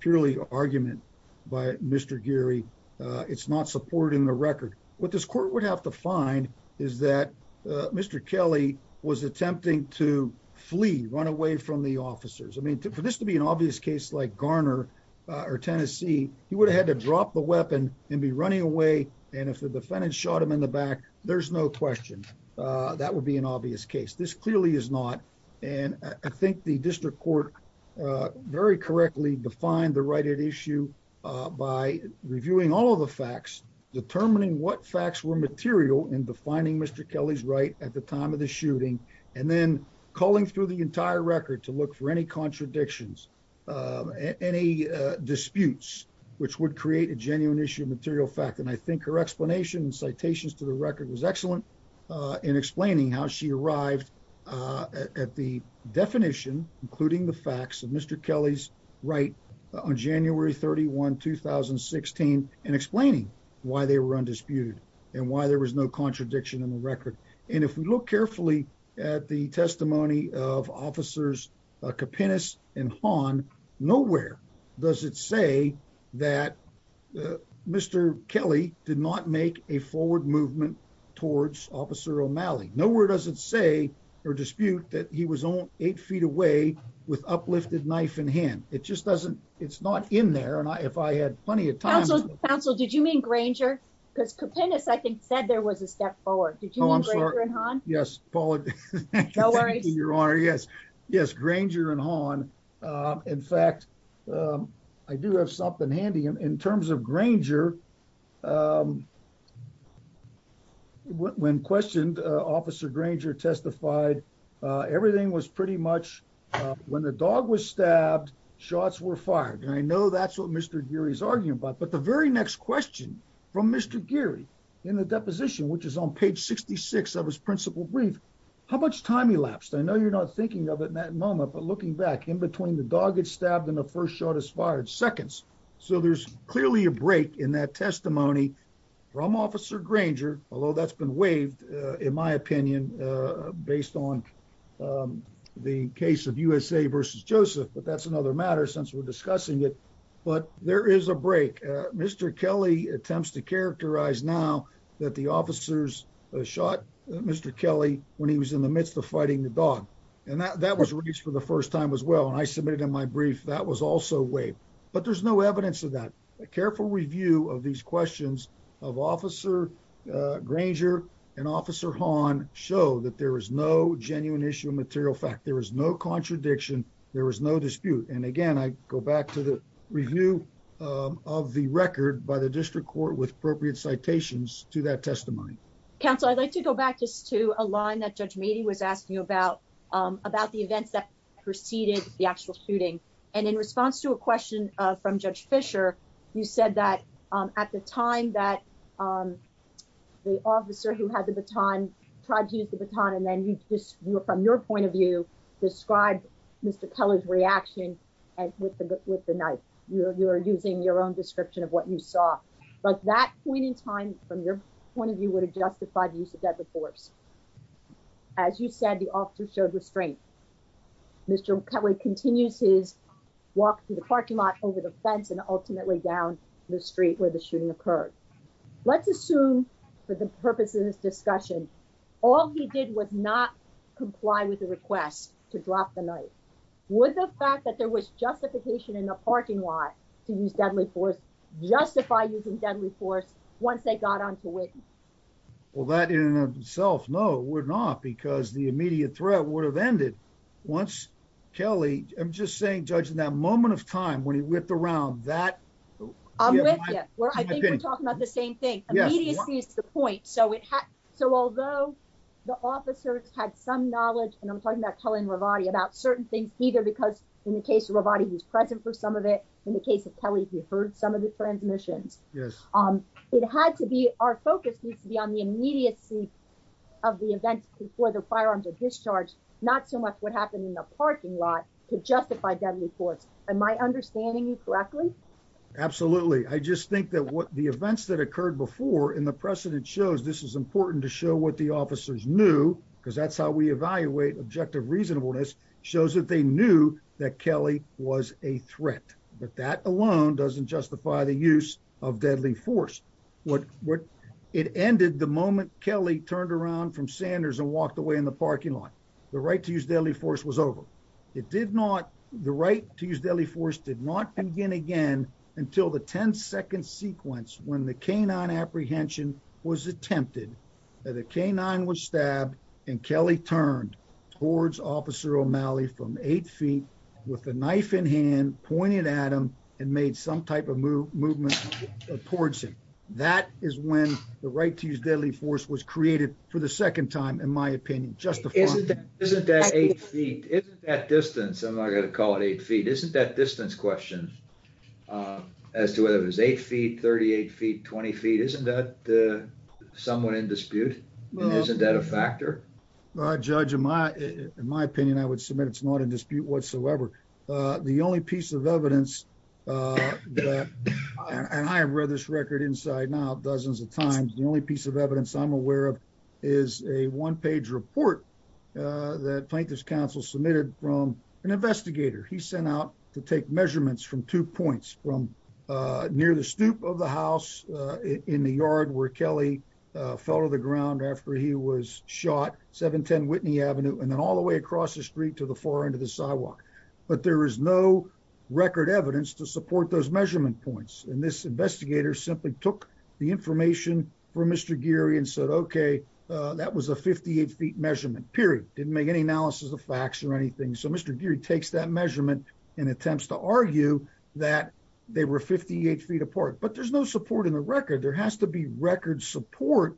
purely argument by Mr. Geary. It's not supporting the record. What this court would have to find is that Mr. Kelly was attempting to flee, run away from the officers. I mean, for this to be an obvious case like Garner or Tennessee, he would have had to drop the weapon and be running away. And if the defendant shot him in the back, there's no question that would be an obvious case. This clearly is not. And I think the district court very correctly defined the right at issue by reviewing all of the facts, determining what facts were material in defining Mr. Kelly's right at the time of the shooting, and then calling through the entire record to look for any contradictions, any disputes, which would create a genuine issue of material fact. And I think her citations to the record was excellent in explaining how she arrived at the definition, including the facts of Mr. Kelly's right on January 31, 2016, and explaining why they were undisputed and why there was no contradiction in the record. And if we look carefully at the movement towards Officer O'Malley, nowhere does it say or dispute that he was on eight feet away with uplifted knife in hand. It just doesn't. It's not in there. And if I had plenty of time, counsel, did you mean Granger? Because Copernicus, I think said there was a step forward. Yes, Paul. Yes. Yes. Granger and Han. In fact, I do have something handy in terms of Granger. Yeah. When questioned, Officer Granger testified. Everything was pretty much when the dog was stabbed, shots were fired. And I know that's what Mr. Gary's arguing about. But the very next question from Mr. Gary in the deposition, which is on page 66 of his principal brief, how much time elapsed? I know you're not thinking of it in that moment, but looking back in between the dog gets stabbed in the first shot is fired seconds. So there's clearly a break in that testimony from Officer Granger, although that's been waived, in my opinion, based on the case of USA versus Joseph. But that's another matter since we're discussing it. But there is a break. Mr. Kelly attempts to characterize now that the officers shot Mr. Kelly when he was in the midst of fighting the dog. And that was released for the first time as well. And I submitted in my brief that was also waived. But there's no evidence of that. A careful review of these questions of Officer Granger and Officer Hawn show that there is no genuine issue of material fact. There is no contradiction. There is no dispute. And again, I go back to the review of the record by the district court with appropriate citations to that testimony. Counsel, I'd like to go back just to a line that Judge Meadey was asking you about about the events that preceded the actual shooting. And in response to a question from Judge Fisher, you said that at the time that the officer who had the baton tried to use the baton and then you just were from your point of view, describe Mr. Keller's reaction with the knife. You're using your own description of what you saw. But that point in time, from your point of view, would have justified use of deadly force. As you said, officer showed restraint. Mr. Kelly continues his walk to the parking lot over the fence and ultimately down the street where the shooting occurred. Let's assume for the purpose of this discussion, all he did was not comply with the request to drop the knife. Would the fact that there was justification in the parking lot to use deadly force justify using deadly force once they got on to it? Well, that in itself, no, we're not, because the immediate threat would have ended once Kelly, I'm just saying, judging that moment of time when he whipped around that. I'm with you. I think we're talking about the same thing. Immediacy is the point. So it had, so although the officers had some knowledge, and I'm talking about Kelly and Ravati about certain things either because in the case of Ravati, he's present for some of it. In the case of Kelly, he heard some of the transmissions. It had to be, our focus needs to be on the immediacy of the events before the firearms are discharged. Not so much what happened in the parking lot to justify deadly force. Am I understanding you correctly? Absolutely. I just think that what the events that occurred before and the precedent shows, this is important to show what the officers knew because that's how we evaluate objective reasonableness, shows that they knew that Kelly was a threat, but that alone doesn't justify the use of deadly force. It ended the moment Kelly turned around from Sanders and walked away in the parking lot. The right to use deadly force was over. It did not, the right to use deadly force did not begin again until the 10 second sequence when the canine apprehension was attempted. The canine was stabbed and Kelly turned towards officer O'Malley from eight feet with a knife in hand, pointed at him and made some type of movement towards him. That is when the right to use deadly force was created for the second time, in my opinion. Isn't that eight feet? Isn't that distance, I'm not going to call it eight feet, isn't that distance question as to whether it was eight feet, 38 feet, 20 feet, isn't that somewhat in dispute? Isn't that a factor? Judge, in my opinion, I would submit it's not in dispute whatsoever. The only piece of evidence, and I have read this record inside now dozens of times, the only piece of evidence I'm aware of is a one page report that plaintiff's counsel submitted from an investigator. He sent out to take measurements from two points from near the stoop of the house in the yard where Kelly fell to the ground after he was shot, 710 Whitney Avenue, and then all the way across the street to the far end of the sidewalk. But there is no record evidence to support those measurement points. And this investigator simply took the information from Mr. Geary and said, okay, that was a 58 feet measurement, period. Didn't make any analysis of facts or anything. So Mr. Geary takes that measurement and attempts to argue that they were 58 feet apart. But there's no support in the record. There has to be record support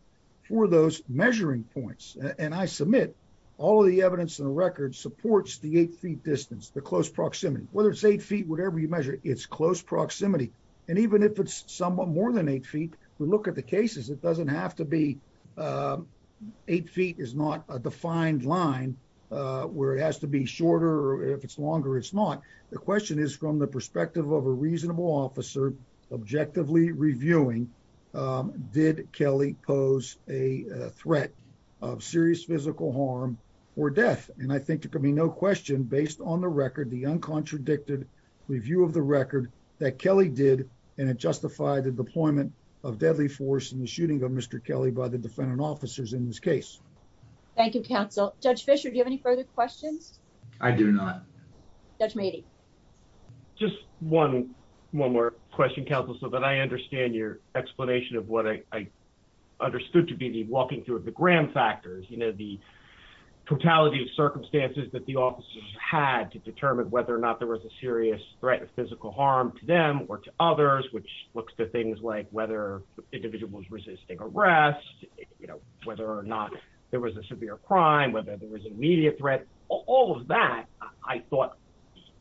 for those measuring points. And I submit all of the evidence in the record supports the eight feet distance, the close proximity, whether it's eight feet, whatever you measure, it's close proximity. And even if it's somewhat more than eight feet, we look at the cases, it doesn't have to be eight feet is not a defined line where it has to be shorter. If it's longer, it's not. The question is from the perspective of a reasonable officer, objectively reviewing, did Kelly pose a threat of serious physical harm or death? And I think there could be no question based on the record, the uncontradicted review of the record that Kelly did. And it justified the deployment of deadly force in the shooting of Mr. Kelly by the defendant officers in this case. Thank you, counsel. Judge Fisher, do you have any further questions? I do not. Judge Mady. Just one, one more question counsel, so that I understand your explanation of what I understood to be the walking through of the Graham factors, you know, the totality of circumstances that the officers had to determine whether or not there was a serious threat of physical harm to them or to others, which looks to things like whether individuals resisting arrest, you know, whether or not there was a severe crime, whether there was immediate threat, all of that, I thought,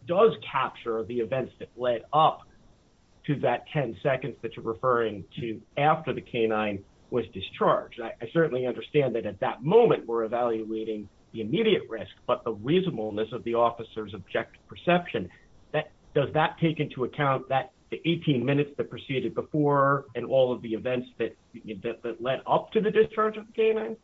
does capture the events that led up to that 10 seconds that you're referring to after the canine was discharged. I certainly understand that at that moment, we're evaluating the immediate risk, but reasonableness of the officers objective perception that does that take into account that the 18 minutes that proceeded before and all of the events that led up to the discharge of canine?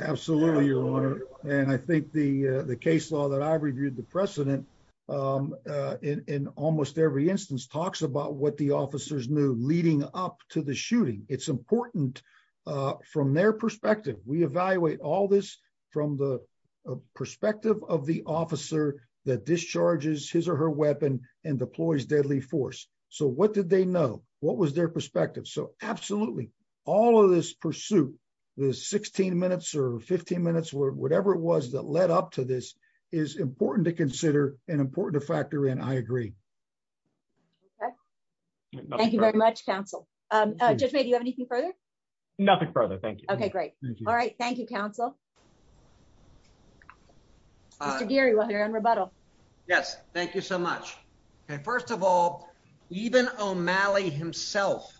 Absolutely, your honor. And I think the the case law that I reviewed the precedent in almost every instance talks about what the officers knew leading up to the shooting. It's officer that discharges his or her weapon and deploys deadly force. So what did they know? What was their perspective? So absolutely, all of this pursuit, the 16 minutes or 15 minutes, whatever it was that led up to this is important to consider and important to factor in. I agree. Thank you very much, counsel. Judge, maybe you have anything further? Nothing further. Thank you. Okay, great. All right. Thank you, counsel. Gary, while you're in rebuttal. Yes, thank you so much. Okay, first of all, even O'Malley himself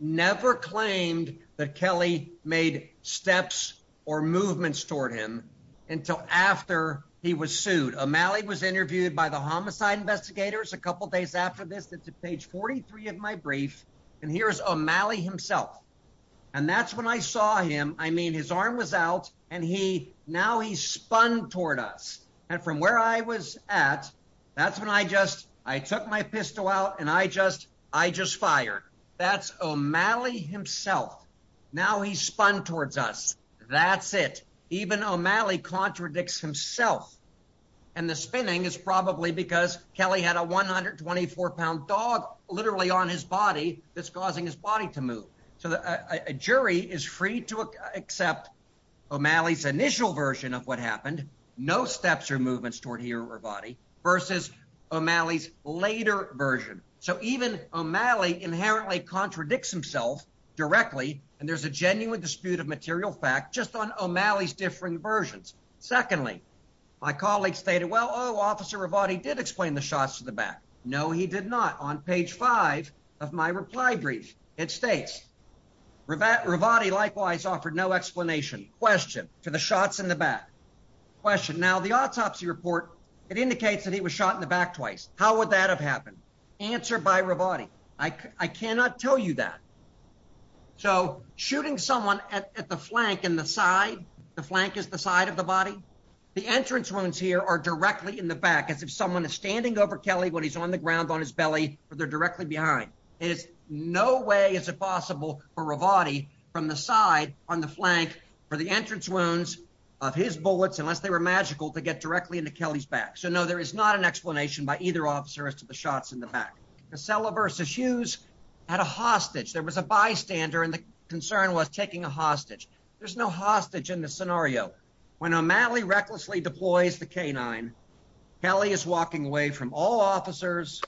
never claimed that Kelly made steps or movements toward him until after he was sued. O'Malley was interviewed by the homicide investigators a couple days after this. That's page 43 of my brief. And here's O'Malley himself. And that's when I saw him. I mean, his arm was out. And he now he's spun toward us. And from where I was at, that's when I just I took my pistol out. And I just I just fired. That's O'Malley himself. Now he's spun towards us. That's it. Even O'Malley contradicts himself. And the spinning is probably because Kelly had a 124 pound dog literally on his body that's causing his body to move. So a jury is free to accept O'Malley's initial version of what happened. No steps or movements toward here or body versus O'Malley's later version. So even O'Malley inherently contradicts himself directly. And there's a genuine dispute of material fact just on O'Malley's different versions. Secondly, my colleagues stated, well, Officer Ravati did explain the shots to the back. No, he did not. On page five of my reply brief, it states that Ravati likewise offered no explanation question to the shots in the back question. Now, the autopsy report, it indicates that he was shot in the back twice. How would that have happened? Answer by Ravati. I cannot tell you that. So shooting someone at the flank in the side, the flank is the side of the body. The entrance wounds here are directly in the back as if someone is standing over Kelly when he's on the ground on his belly or they're directly behind. There's no way is it possible for Ravati from the side on the flank for the entrance wounds of his bullets unless they were magical to get directly into Kelly's back. So no, there is not an explanation by either officer as to the shots in the back. Casella versus Hughes had a hostage. There was a bystander and the concern was taking a hostage. There's no hostage in the scenario when O'Malley recklessly deploys the canine. Kelly is walking away from all officers.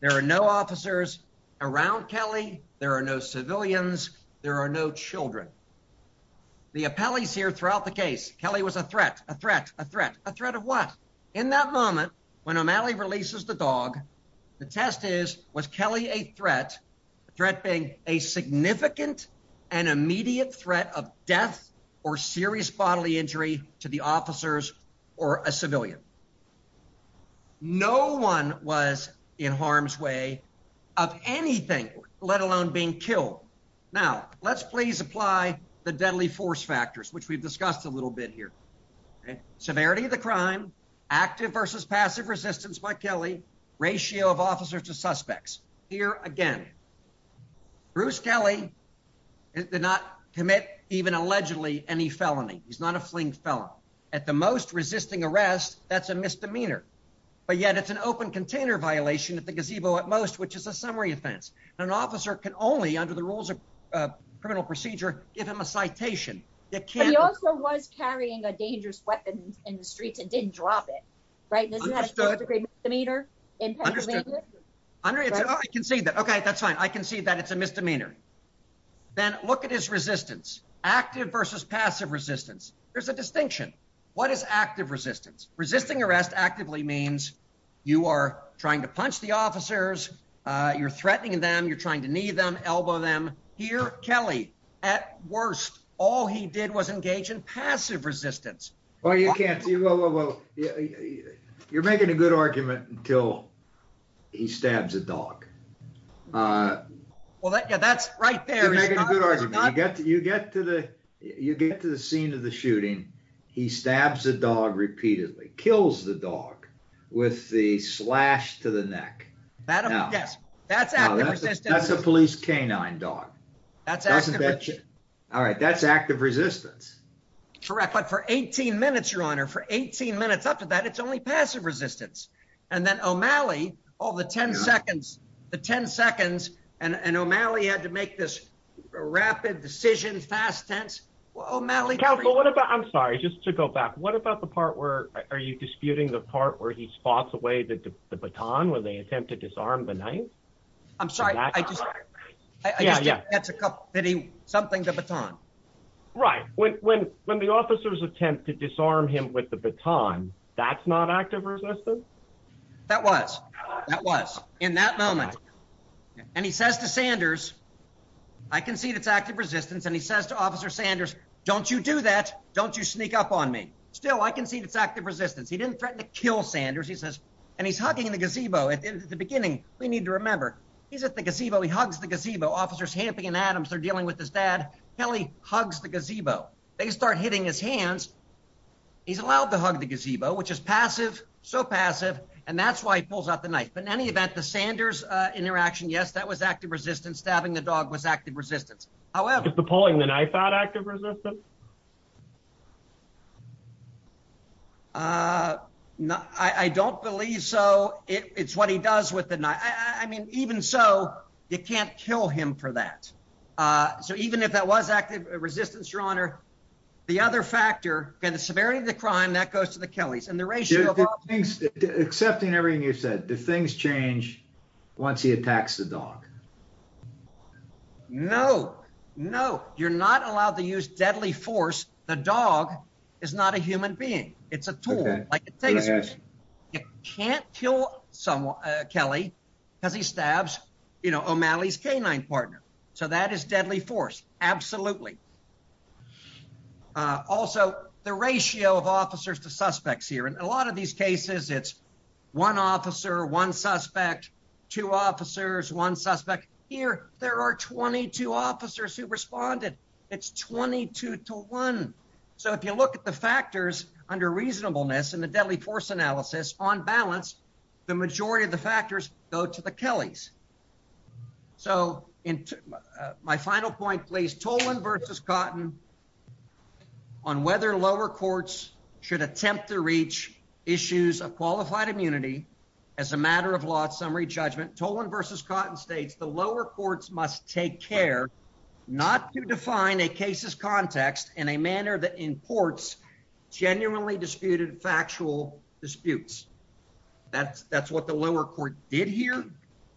There are no officers around Kelly. There are no civilians. There are no children. The appellees here throughout the case. Kelly was a threat, a threat, a threat, a threat of what? In that moment when O'Malley releases the dog, the test is was Kelly a threat, a threat being a significant and immediate threat of death or serious bodily injury to the officers or a civilian. No one was in harm's way of anything, let alone being killed. Now let's please apply the deadly force factors which we've discussed a little bit here. Severity of the crime, active versus passive resistance by Kelly, ratio of officers to suspects. Here again, Bruce Kelly did not commit even allegedly any felony. He's not a fling felon. At the most resisting arrest, that's a misdemeanor, but yet it's an open container violation at the gazebo at most which is a summary offense. An officer can only, under the rules of criminal procedure, give him a citation. He also was carrying a dangerous weapon in the streets and didn't drop it, right? I can see that. Okay, that's fine. I can see that it's a misdemeanor. Then look at his resistance, active versus passive resistance. There's a distinction. What is active resistance? Resisting arrest actively means you are trying to punch the man, you're threatening them, you're trying to knee them, elbow them. Here, Kelly, at worst, all he did was engage in passive resistance. Well, you can't. You're making a good argument until he stabs a dog. Well, yeah, that's right there. You're making a good argument. You get to the scene of the shooting, he stabs the dog repeatedly, kills the dog with the slash to the neck. That's a police canine dog. All right, that's active resistance. Correct, but for 18 minutes, your honor, for 18 minutes after that, it's only passive resistance. And then O'Malley, all the 10 seconds, and O'Malley had to make this rapid decision, fast tense. I'm sorry, just to go back, what about the part where are you disputing the part where he spots away the baton when they attempt to disarm the knife? I'm sorry, I just, yeah, yeah, that's a couple, that he, something, the baton. Right, when the officers attempt to disarm him with the baton, that's not active resistance? That was, that was in that moment. And he says to Sanders, I concede it's active resistance. And he says to Officer Still, I concede it's active resistance. He didn't threaten to kill Sanders. He says, and he's hugging the gazebo. At the beginning, we need to remember, he's at the gazebo. He hugs the gazebo. Officers Hampton and Adams are dealing with his dad. Kelly hugs the gazebo. They start hitting his hands. He's allowed to hug the gazebo, which is passive, so passive. And that's why he pulls out the knife. But in any event, the Sanders interaction, yes, that was active resistance. Stabbing the dog was active resistance. However. Did pulling the knife out active resistance? Uh, no, I don't believe so. It's what he does with the knife. I mean, even so, you can't kill him for that. So even if that was active resistance, Your Honor, the other factor, okay, the severity of the crime, that goes to the Kellys. And the ratio of things, accepting everything you said, the things change once he attacks the dog. No, no, you're not allowed to use deadly force. The dog is not a human being. It's a tool. You can't kill someone, Kelly, because he stabs, you know, O'Malley's canine partner. So that is deadly force. Absolutely. Also, the ratio of officers to suspects here, a lot of these cases, it's one officer, one suspect, two officers, one suspect here. There are 22 officers who responded. It's 22 to one. So if you look at the factors under reasonableness and the deadly force analysis on balance, the majority of the factors go to the Kellys. So in my final point, please, Tolan versus cotton on whether lower courts should attempt to issues of qualified immunity. As a matter of law, summary judgment, Tolan versus cotton states the lower courts must take care not to define a case's context in a manner that imports genuinely disputed factual disputes. That's what the lower court did here.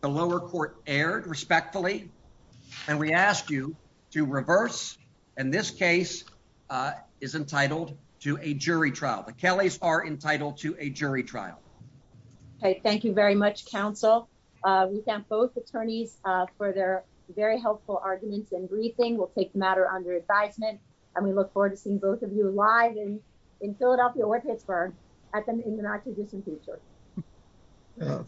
The lower court erred respectfully, and we asked you to reverse. And this case is entitled to a jury trial. The Kellys are entitled to a jury trial. Okay. Thank you very much, counsel. We thank both attorneys for their very helpful arguments and briefing. We'll take the matter under advisement, and we look forward to seeing both of you live and in Philadelphia or Pittsburgh at them in the not too distant future.